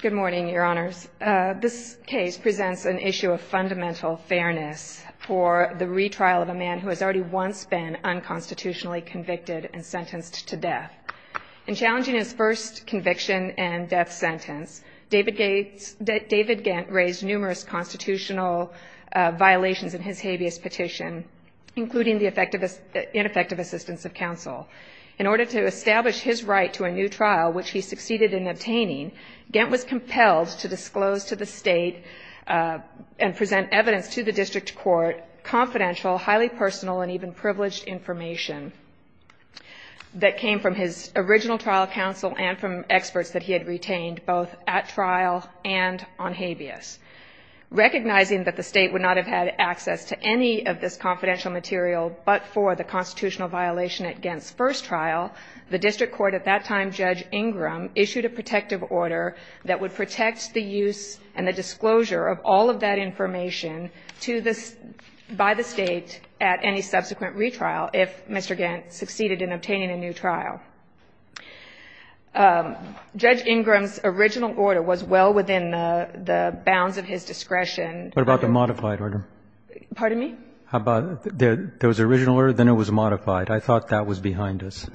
Good morning, Your Honors. This case presents an issue of fundamental fairness for the retrial of a man who has already once been unconstitutionally convicted and sentenced to death. In challenging his first conviction and death sentence, David Ghent raised numerous constitutional violations in his habeas petition, including the ineffective assistance of counsel. In order to establish his right to a new trial, which he succeeded in obtaining, Ghent was compelled to disclose to the state and present evidence to the district court confidential, highly personal, and even privileged information that came from his original trial counsel and from experts that he had retained both at trial and on habeas. Recognizing that the state would not have had access to any of this confidential material but for the constitutional violation at Ghent's first trial, the district court at that time, Judge Ingram, issued a protective order that would protect the use and the disclosure of all of that information by the state at any subsequent retrial if Mr. Ghent succeeded in obtaining a new trial. Judge Ingram's original order was well within the bounds of his discretion. What about the modified order? Pardon me? There was an original order, then it was modified. I thought that was behind us.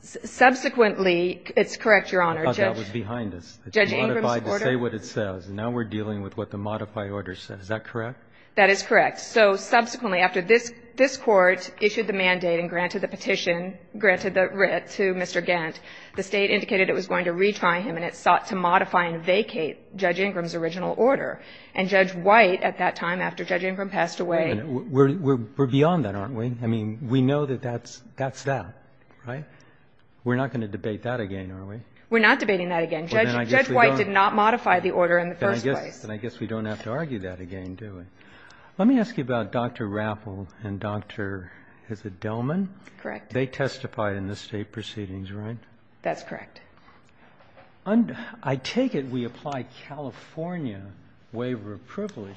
Subsequently, it's correct, Your Honor. I thought that was behind us. Judge Ingram's order? It's modified to say what it says. Now we're dealing with what the modified order says. Is that correct? That is correct. So subsequently, after this Court issued the mandate and granted the petition, granted the writ to Mr. Ghent, the State indicated it was going to retry him, and it sought to modify and vacate Judge Ingram's original order. And Judge White, at that time, after Judge Ingram passed away – We're beyond that, aren't we? I mean, we know that that's that, right? We're not going to debate that again, are we? We're not debating that again. Judge White did not modify the order in the first place. Then I guess we don't have to argue that again, do we? Let me ask you about Dr. Rappel and Dr. – is it Dellman? Correct. They testified in the State proceedings, right? That's correct. I take it we apply California waiver of privilege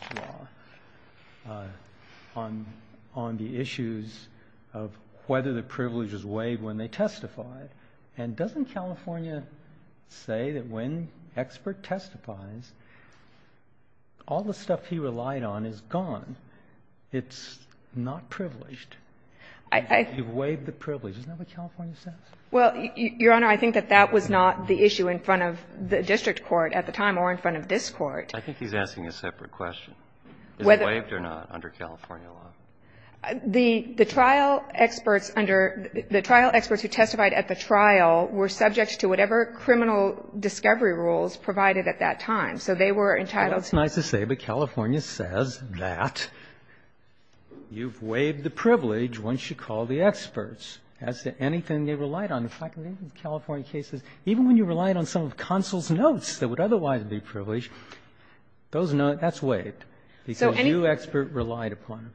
law on the issues of whether the privileges waived when they testified. And doesn't California say that when an expert testifies, all the stuff he relied on is gone? It's not privileged. You waived the privilege. Isn't that what California says? Well, Your Honor, I think that that was not the issue in front of the district court at the time or in front of this Court. I think he's asking a separate question. Whether – Is it waived or not under California law? The trial experts under – the trial experts who testified at the trial were subject to whatever criminal discovery rules provided at that time. So they were entitled to – Well, that's nice to say, but California says that you've waived the privilege once you call the experts as to anything they relied on. In fact, in many of the California cases, even when you relied on some of counsel's notes that would otherwise be privileged, those notes – that's waived because you, expert, relied upon them.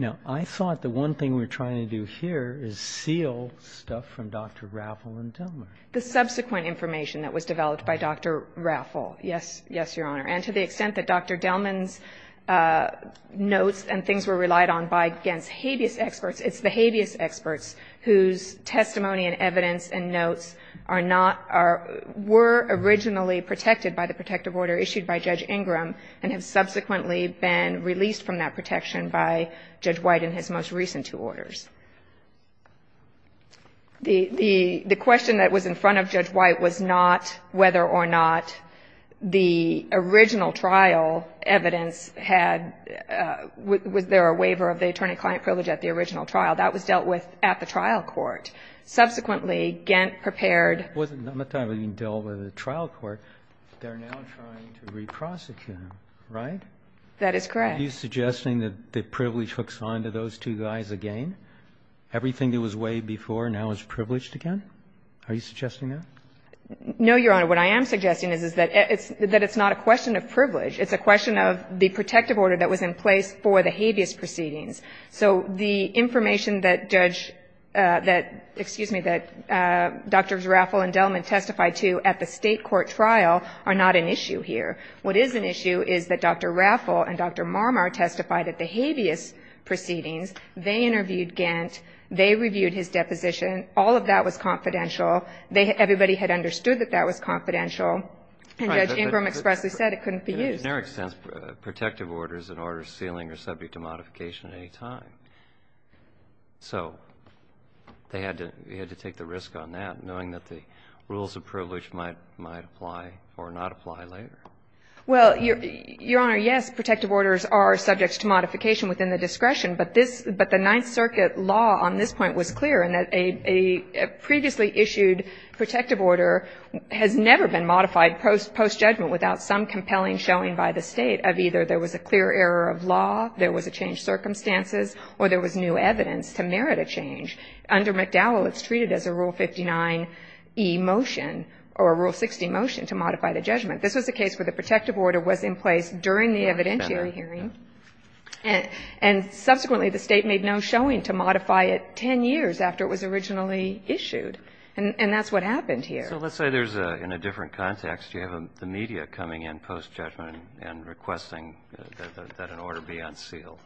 Now, I thought the one thing we're trying to do here is seal stuff from Dr. Rappel and Dellman. The subsequent information that was developed by Dr. Rappel, yes, Your Honor. And to the extent that Dr. Dellman's notes and things were relied on by against habeas experts, it's the habeas experts whose testimony and evidence and notes are not – were originally protected by the protective order issued by Judge Ingram and have subsequently been released from that protection by Judge White in his most recent two orders. The question that was in front of Judge White was not whether or not the original trial evidence had – was there a waiver of the attorney-client privilege at the original trial. That was dealt with at the trial court. Subsequently, Gantt prepared – It wasn't dealt with at the trial court. They're now trying to re-prosecute him, right? That is correct. Are you suggesting that the privilege hooks onto those two guys again? Everything that was waived before now is privileged again? Are you suggesting that? No, Your Honor. What I am suggesting is that it's not a question of privilege. It's a question of the protective order that was in place for the habeas proceedings. So the information that Judge – that – excuse me – that Drs. Rappel and Dellman testified to at the State court trial are not an issue here. What is an issue is that Dr. Rappel and Dr. Marmar testified at the habeas proceedings. They interviewed Gantt. They reviewed his deposition. All of that was confidential. Everybody had understood that that was confidential. And Judge Ingram expressly said it couldn't be used. In their sense, protective orders and orders sealing are subject to modification at any time. So they had to take the risk on that, knowing that the rules of privilege might apply or not apply later. Well, Your Honor, yes, protective orders are subject to modification within the case, but the Ninth Circuit law on this point was clear in that a previously issued protective order has never been modified post-judgment without some compelling showing by the State of either there was a clear error of law, there was a changed circumstances, or there was new evidence to merit a change. Under McDowell, it's treated as a Rule 59e motion or a Rule 60 motion to modify the judgment. This was a case where the protective order was in place during the evidentiary hearing. And subsequently, the State made no showing to modify it 10 years after it was originally issued. And that's what happened here. So let's say there's a – in a different context, you have the media coming in post-judgment and requesting that an order be unsealed.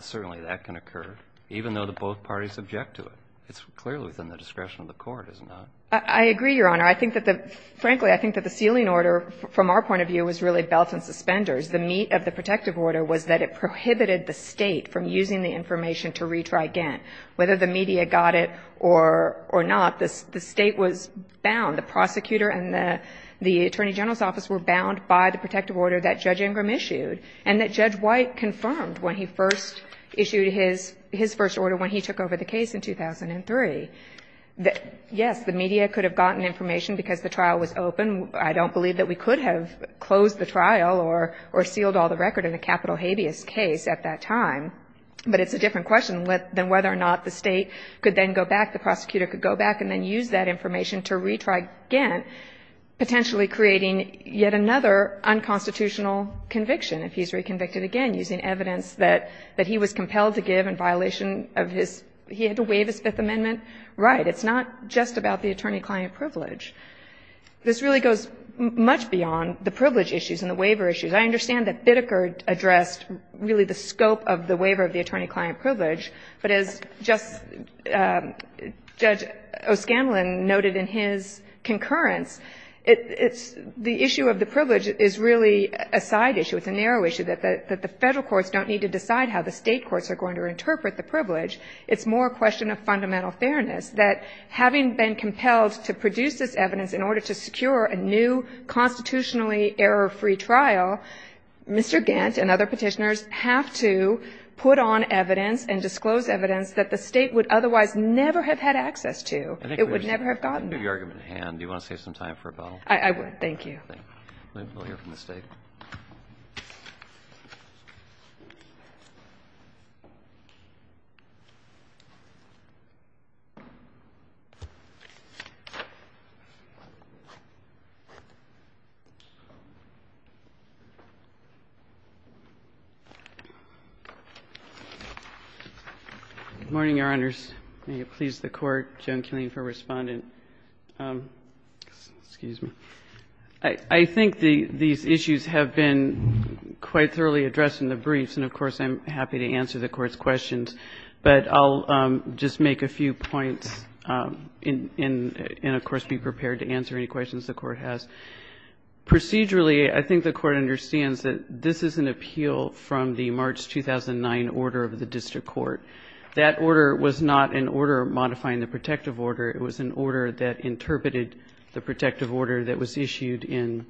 Certainly that can occur, even though both parties object to it. It's clearly within the discretion of the Court, is it not? I agree, Your Honor. I think that the – frankly, I think that the sealing order, from our point of view, was really belt and suspenders. The meat of the protective order was that it prohibited the State from using the information to retry Gantt. Whether the media got it or not, the State was bound, the prosecutor and the Attorney General's office were bound by the protective order that Judge Ingram issued, and that Judge White confirmed when he first issued his first order when he took over the case in 2003. Yes, the media could have gotten information because the trial was open. I don't believe that we could have closed the trial or sealed all the record in the capital habeas case at that time. But it's a different question than whether or not the State could then go back, the prosecutor could go back, and then use that information to retry Gantt, potentially creating yet another unconstitutional conviction if he's reconvicted again, using evidence that he was compelled to give in violation of his – he had to waive his Fifth Amendment right. It's not just about the attorney-client privilege. This really goes much beyond the privilege issues and the waiver issues. I understand that Bitteker addressed really the scope of the waiver of the attorney- client privilege, but as Judge O'Scanlan noted in his concurrence, it's – the issue of the privilege is really a side issue. It's a narrow issue that the Federal courts don't need to decide how the State courts are going to interpret the privilege. It's more a question of fundamental fairness, that having been compelled to produce this evidence in order to secure a new constitutionally error-free trial, Mr. Gantt and other Petitioners have to put on evidence and disclose evidence that the State would otherwise never have had access to. It would never have gotten that. Roberts. I think we should leave the argument at hand. Do you want to save some time for a vote? I would. Thank you. Thank you. We'll hear from the State. Good morning, Your Honors. May it please the Court. Joan Keeling for Respondent. Excuse me. I think these issues have been quite thoroughly addressed in the briefs, and, of course, I'm happy to answer the Court's questions, but I'll just make a few points and, of course, be prepared to answer any questions the Court has. Procedurally, I think the Court understands that this is an appeal from the March 2009 order of the district court. That order was not an order modifying the protective order. It was an order that interpreted the protective order that was issued in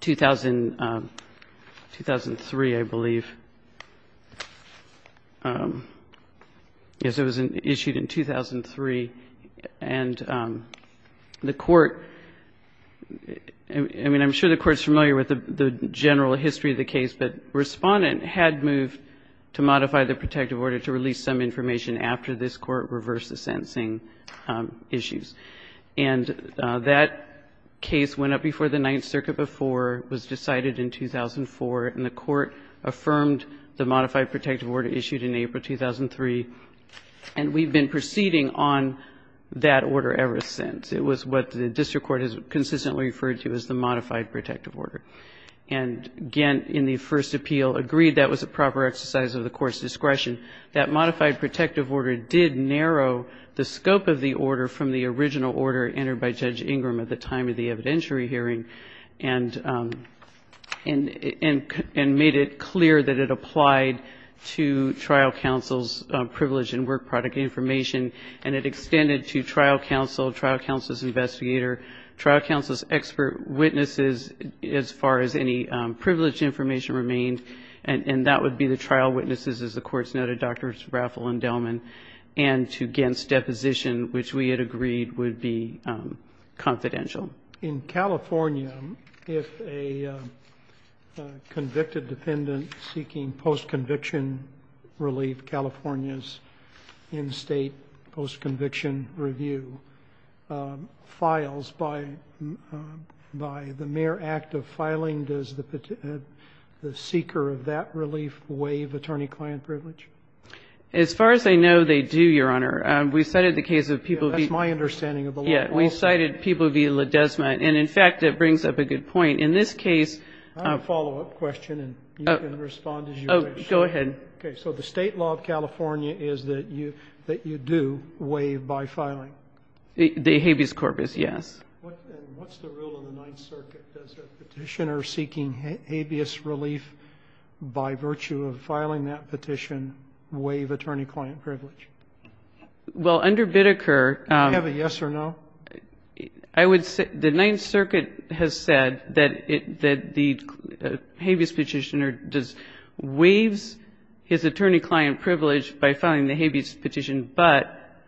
2003, I believe. Yes, it was issued in 2003. And the Court, I mean, I'm sure the Court's familiar with the general history of the case, but Respondent had moved to modify the protective order to release some information after this Court reversed the sentencing issues. And that case went up before the Ninth Circuit before it was decided in 2004, and the Court affirmed the modified protective order issued in April 2003. And we've been proceeding on that order ever since. It was what the district court has consistently referred to as the modified protective order. And, again, in the first appeal, agreed that was a proper exercise of the Court's discretion. That modified protective order did narrow the scope of the order from the original order entered by Judge Ingram at the time of the evidentiary hearing and made it clear that it applied to trial counsel's privilege and work product information, and it extended to trial counsel, trial counsel's investigator, trial counsel's expert witnesses as far as any privilege information remained, and that would be the same as it did to Drs. Raffel and Delman and to Ghent's deposition, which we had agreed would be confidential. In California, if a convicted dependent seeking post-conviction relief, California's in-state post-conviction review files by the mere act of filing, does the seeker of that relief waive attorney-client privilege? As far as I know, they do, Your Honor. We cited the case of people... That's my understanding of the law. Yeah. We cited people via La Desma, and, in fact, it brings up a good point. In this case... I have a follow-up question, and you can respond as you wish. Oh, go ahead. Okay. So the state law of California is that you do waive by filing? The habeas corpus, yes. And what's the rule in the Ninth Circuit? Does a petitioner seeking habeas relief by virtue of filing that petition waive attorney-client privilege? Well, under Biddeker... Do you have a yes or no? I would say the Ninth Circuit has said that the habeas petitioner waives his attorney-client privilege by filing the habeas petition, but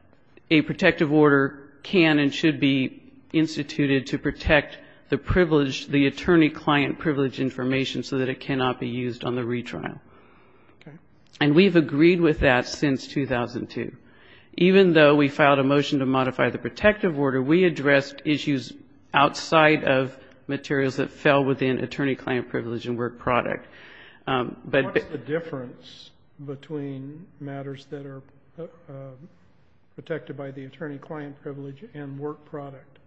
a protective order can and should be instituted to protect the privilege, the attorney-client privilege information so that it cannot be used on the retrial. Okay. And we've agreed with that since 2002. Even though we filed a motion to modify the protective order, we addressed issues outside of materials that fell within attorney-client privilege and work product. What is the difference between matters that are protected by the attorney-client privilege and work product?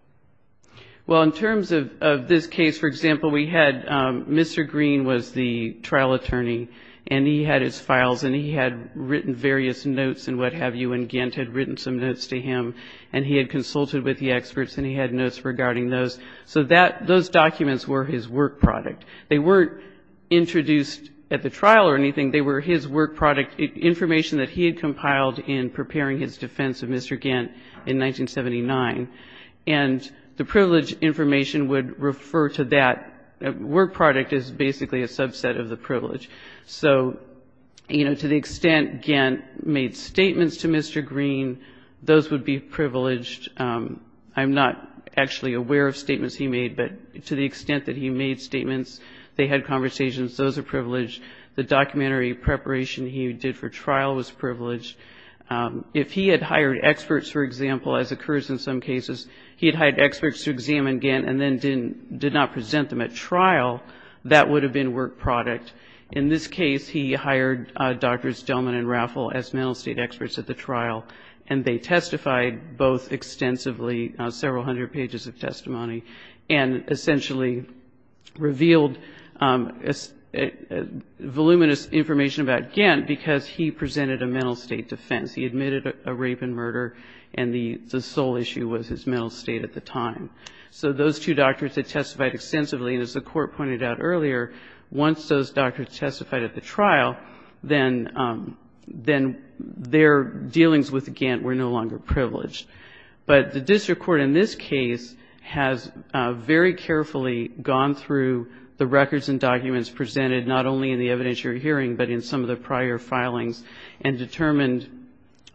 Well, in terms of this case, for example, we had Mr. Green was the trial attorney, and he had his files, and he had written various notes and what have you, and Gantt had written some notes to him, and he had consulted with the experts, and he had notes regarding those. So that those documents were his work product. They weren't introduced at the trial or anything. They were his work product, information that he had compiled in preparing his defense of Mr. Gantt in 1979. And the privilege information would refer to that. Work product is basically a subset of the privilege. So, you know, to the extent Gantt made statements to Mr. Green, those would be privileged. I'm not actually aware of statements he made, but to the extent that he made statements, they had conversations, those are privileged. The documentary preparation he did for trial was privileged. If he had hired experts, for example, as occurs in some cases, he had hired experts to examine Gantt and then did not present them at trial, that would have been work product. In this case, he hired Drs. Delman and Raffel as mental state experts at the trial, and they testified both extensively, several hundred pages of testimony, and essentially revealed voluminous information about Gantt because he presented a mental state testimony. He admitted a rape and murder, and the sole issue was his mental state at the time. So those two doctors had testified extensively, and as the Court pointed out earlier, once those doctors testified at the trial, then their dealings with Gantt were no longer privileged. But the district court in this case has very carefully gone through the records and documents presented, not only in the evidence you're hearing, but in some of the prior filings, and determined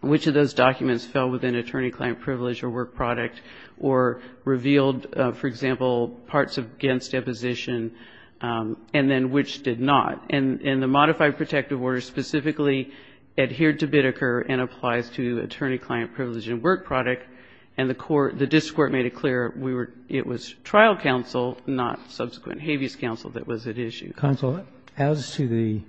which of those documents fell within attorney-client privilege or work product, or revealed, for example, parts of Gantt's deposition, and then which did not. And the modified protective order specifically adhered to Biddecker and applies to attorney-client privilege and work product, and the court, the district court made it clear it was trial counsel, not subsequent habeas counsel, that was at issue. Roberts. As to the,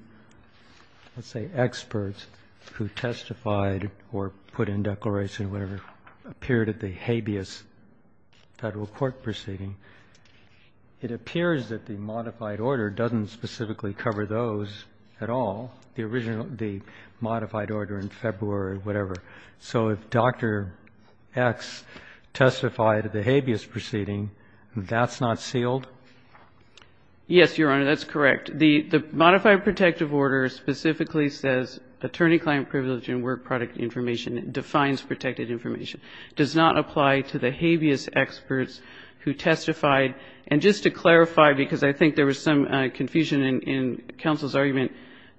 let's say, experts who testified or put in declaration, whatever, appeared at the habeas Federal court proceeding, it appears that the modified order doesn't specifically cover those at all, the original, the modified order in February or whatever. So if Dr. X testified at the habeas proceeding, that's not sealed? Yes, Your Honor, that's correct. The modified protective order specifically says attorney-client privilege and work product information, it defines protected information, does not apply to the habeas experts who testified. And just to clarify, because I think there was some confusion in counsel's argument,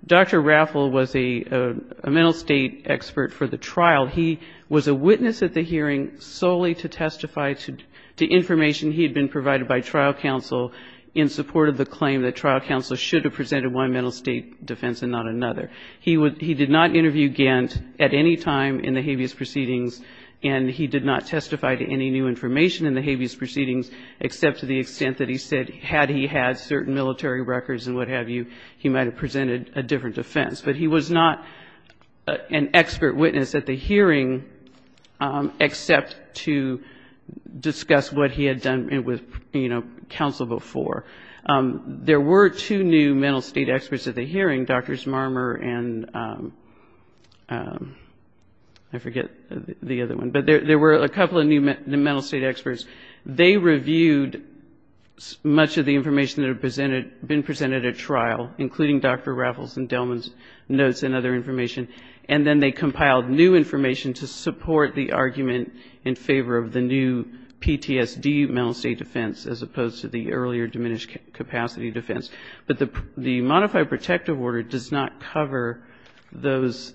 Dr. Raffel was a mental state expert for the trial. He was a witness at the hearing solely to testify to information he had been provided by trial counsel in support of the claim that trial counsel should have presented one mental state defense and not another. He did not interview Gantt at any time in the habeas proceedings, and he did not testify to any new information in the habeas proceedings, except to the extent that he said had he had certain military records and what have you, he might have presented a different defense. But he was not an expert witness at the hearing, except to discuss what he had done with, you know, counsel before. There were two new mental state experts at the hearing, Drs. Marmer and I forget the other one, but there were a couple of new mental state experts. They reviewed much of the information that had been presented at trial, including Dr. Raffel's and Delman's notes and other information, and then they compiled new information to support the argument in favor of the new PTSD mental state defense as opposed to the earlier diminished capacity defense. But the modified protective order does not cover those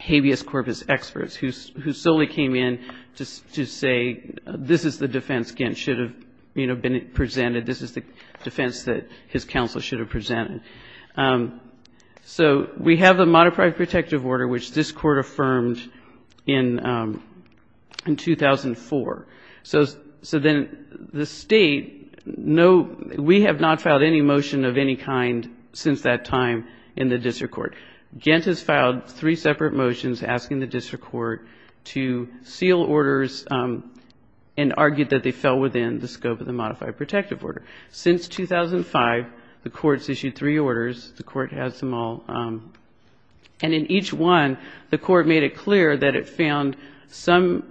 habeas corpus experts who solely came in to say this is the defense Gantt should have, you know, been presented. This is the defense that his counsel should have presented. So we have a modified protective order, which this Court affirmed in 2004. So then the State, no, we have not filed any motion of any kind since that time in the district court to seal orders and argue that they fell within the scope of the modified protective order. Since 2005, the Court's issued three orders. The Court has them all, and in each one, the Court made it clear that it found some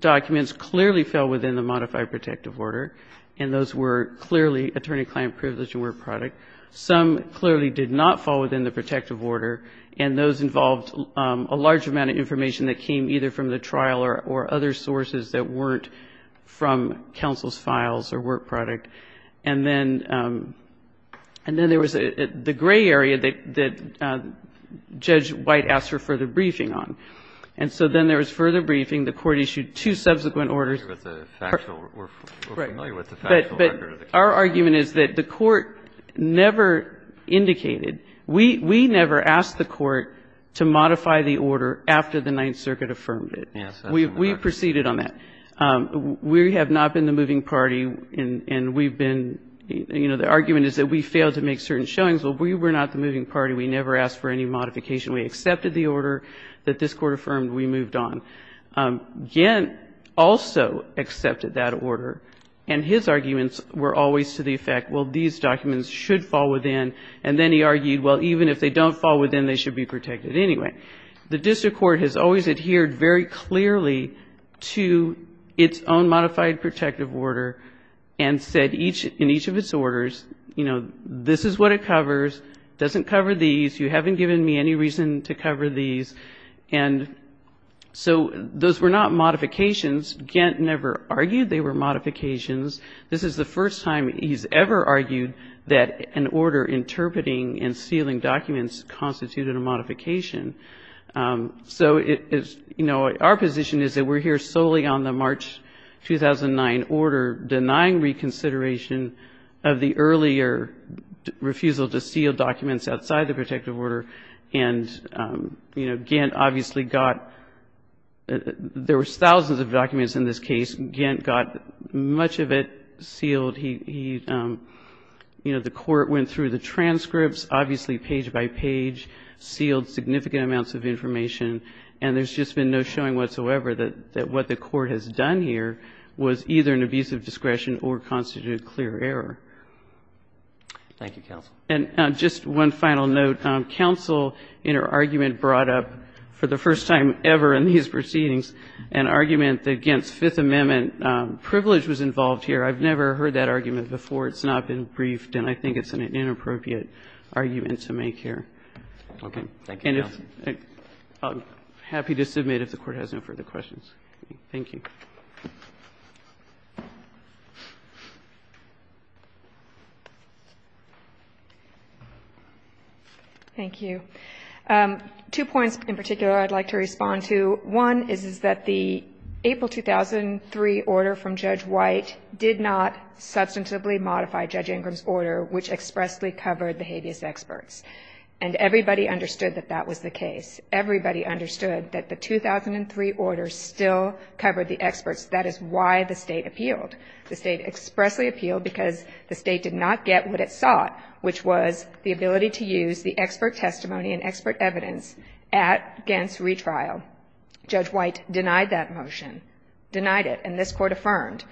documents clearly fell within the modified protective order, and those were clearly attorney-client privilege and work product. Some clearly did not fall within the protective order, and those involved a large amount of information that came either from the trial or other sources that weren't from counsel's files or work product. And then there was the gray area that Judge White asked for further briefing on. And so then there was further briefing. The Court issued two subsequent orders. But our argument is that the Court never indicated. We never asked the Court to modify the order after the Ninth Circuit affirmed it. We proceeded on that. We have not been the moving party, and we've been, you know, the argument is that we failed to make certain showings, but we were not the moving party. We never asked for any modification. We accepted the order that this Court affirmed. We moved on. Gant also accepted that order, and his arguments were always to the effect, well, these documents should fall within. And then he argued, well, even if they don't fall within, they should be protected anyway. The district court has always adhered very clearly to its own modified protective order and said in each of its orders, you know, this is what it covers, doesn't cover these. You haven't given me any reason to cover these. And so those were not modifications. Gant never argued they were modifications. This is the first time he's ever argued that an order interpreting and sealing documents constituted a modification. So, you know, our position is that we're here solely on the March 2009 order denying reconsideration of the earlier refusal to seal documents outside the protective order. And, you know, Gant obviously got there were thousands of documents in this case. Gant got much of it sealed. He, you know, the Court went through the transcripts, obviously page by page, sealed significant amounts of information, and there's just been no showing whatsoever that what the Court has done here was either an abusive discretion or constituted clear error. And just one final note. Counsel in her argument brought up for the first time ever in these proceedings an argument that Gant's Fifth Amendment privilege was involved here. I've never heard that argument before. It's not been briefed, and I think it's an inappropriate argument to make here. Okay. Thank you, Your Honor. I'm happy to submit if the Court has no further questions. Thank you. Thank you. Two points in particular I'd like to respond to. One is that the April 2003 order from Judge White did not substantively modify Judge Ingram's order, which expressly covered the habeas experts. And everybody understood that that was the case. Everybody understood that the 2003 order still covered the experts. That is why the State appealed. The State expressly appealed because the State did not get what it sought, which was the ability to use the expert testimony and expert evidence at Gant's retrial. Judge White denied that motion, denied it, and this Court affirmed.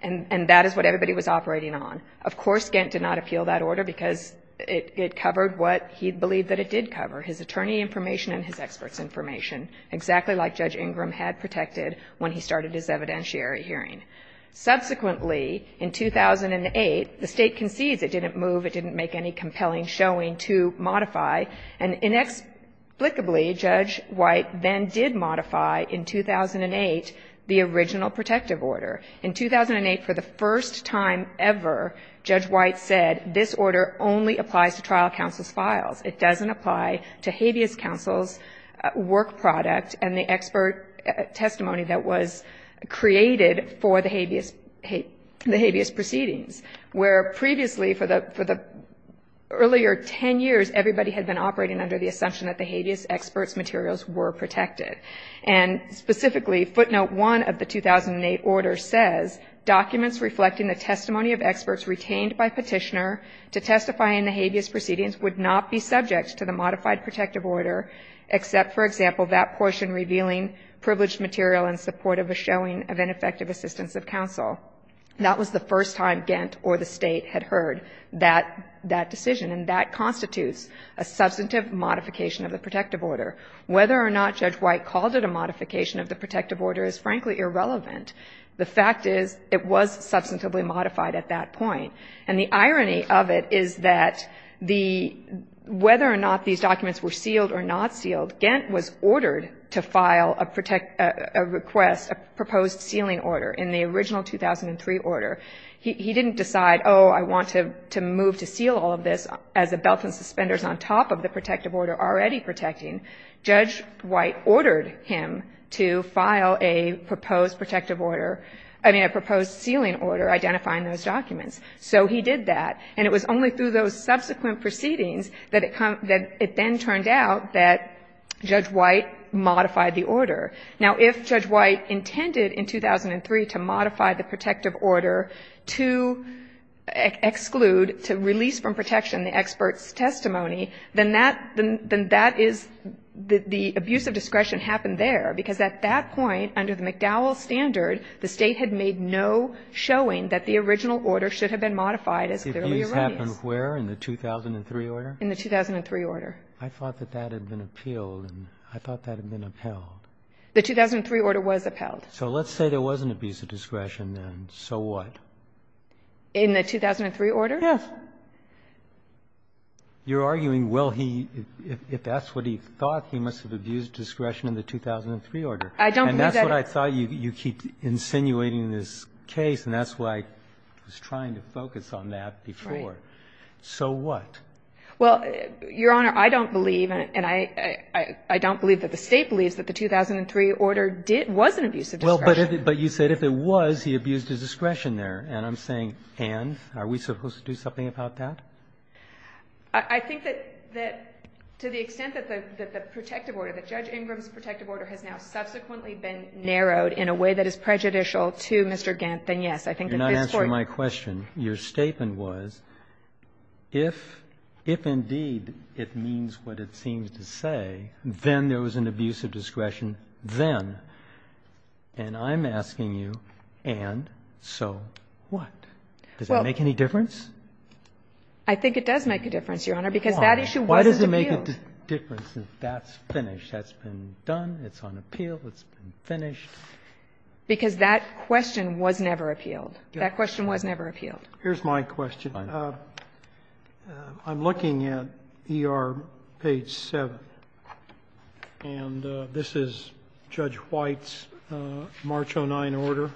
And that is what everybody was operating on. Of course, Gant did not appeal that order because it covered what he believed that it did cover, his attorney information and his experts information, exactly like Judge Ingram had protected when he started his evidentiary hearing. Subsequently, in 2008, the State concedes it didn't move, it didn't make any compelling showing to modify, and inexplicably, Judge White then did modify in 2008 the original protective order. In 2008, for the first time ever, Judge White said this order only applies to trial counsel's files. It doesn't apply to habeas counsel's work product and the expert testimony that was created for the habeas proceedings, where previously for the earlier 10 years everybody had been operating under the assumption that the habeas experts materials were protected. And specifically, footnote 1 of the 2008 order says, Documents reflecting the testimony of experts retained by Petitioner to testify in the habeas proceedings would not be subject to the modified protective order, except, for example, that portion revealing privileged material in support of a showing of ineffective assistance of counsel. That was the first time Gant or the State had heard that decision, and that constitutes a substantive modification of the protective order. Whether or not Judge White called it a modification of the protective order is, frankly, irrelevant. The fact is it was substantively modified at that point. And the irony of it is that the, whether or not these documents were sealed or not sealed, Gant was ordered to file a request, a proposed sealing order in the original 2003 order. He didn't decide, oh, I want to move to seal all of this as a belt and suspenders on top of the protective order already protecting. Judge White ordered him to file a proposed protective order, I mean, a proposed sealing order identifying those documents. So he did that. And it was only through those subsequent proceedings that it then turned out that Judge White modified the order. Now, if Judge White intended in 2003 to modify the protective order to exclude, to release from protection the expert's testimony, then that is, the abuse of discretion happened there. Because at that point, under the McDowell standard, the State had made no showing that the original order should have been modified as clearly arranged. Roberts. In the 2003 order? I thought that that had been appealed. I thought that had been upheld. The 2003 order was upheld. So let's say there was an abuse of discretion, and so what? In the 2003 order? Yes. You're arguing, well, he, if that's what he thought, he must have abused discretion in the 2003 order. I don't believe that. And that's what I thought. You keep insinuating this case, and that's why I was trying to focus on that before. Right. So what? Well, Your Honor, I don't believe, and I don't believe that the State believes that the 2003 order did, was an abuse of discretion. Well, but you said if it was, he abused his discretion there. And I'm saying, and? Are we supposed to do something about that? I think that to the extent that the protective order, that Judge Ingram's protective order has now subsequently been narrowed in a way that is prejudicial to Mr. Gant, then, yes, I think at this point You're not answering my question. Your statement was, if indeed it means what it seems to say, then there was an abuse of discretion, then. And I'm asking you, and so what? Does that make any difference? I think it does make a difference, Your Honor, because that issue wasn't appealed. Why? Why does it make a difference if that's finished, that's been done, it's on appeal, it's been finished? Because that question was never appealed. That question was never appealed. Here's my question. Fine. Now, I'm looking at ER page 7. And this is Judge White's March 09 order.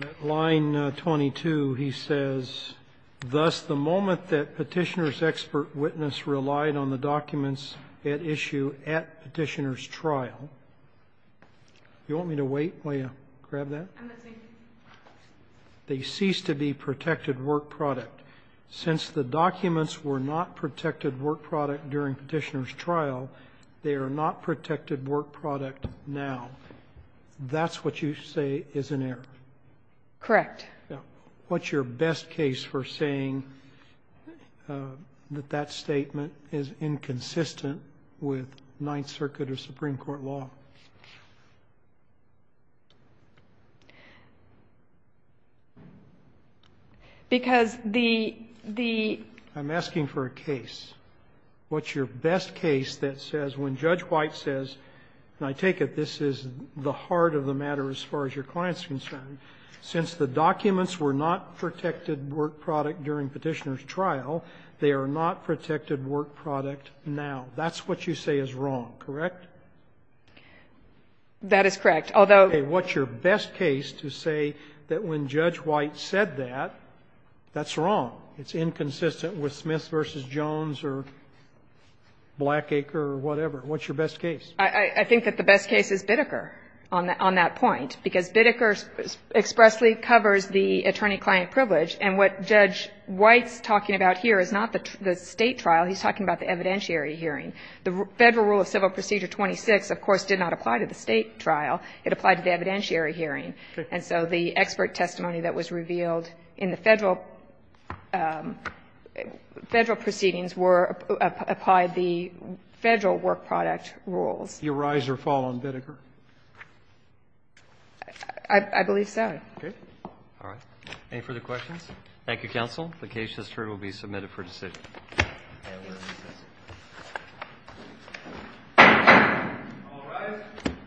And at line 22, he says, Thus, the moment that petitioner's expert witness relied on the documents at issue at petitioner's trial. You want me to wait while you grab that? I'm not taking it. They cease to be protected work product. Since the documents were not protected work product during petitioner's trial, they are not protected work product now. That's what you say is an error. Correct. Yeah. What's your best case for saying that that statement is inconsistent with Ninth Circuit or Supreme Court law? Because the the I'm asking for a case. What's your best case that says when Judge White says, and I take it this is the heart of the matter as far as your client is concerned, since the documents were not protected work product during petitioner's trial, they are not protected work product now. That's what you say is wrong. Correct? That is correct. Although Okay. What's your best case to say that when Judge White said that, that's wrong? It's inconsistent with Smith v. Jones or Blackacre or whatever. What's your best case? I think that the best case is Bitteker on that point, because Bitteker expressly covers the attorney-client privilege, and what Judge White's talking about here is not the State trial. He's talking about the evidentiary hearing. The Federal Rule of Civil Procedure 26, of course, did not apply to the State trial. It applied to the evidentiary hearing. And so the expert testimony that was revealed in the Federal proceedings were applied the Federal work product rules. Do you rise or fall on Bitteker? I believe so. Okay. All right. Any further questions? Thank you, counsel. The case has turned. It will be submitted for decision. Thank you. All rise.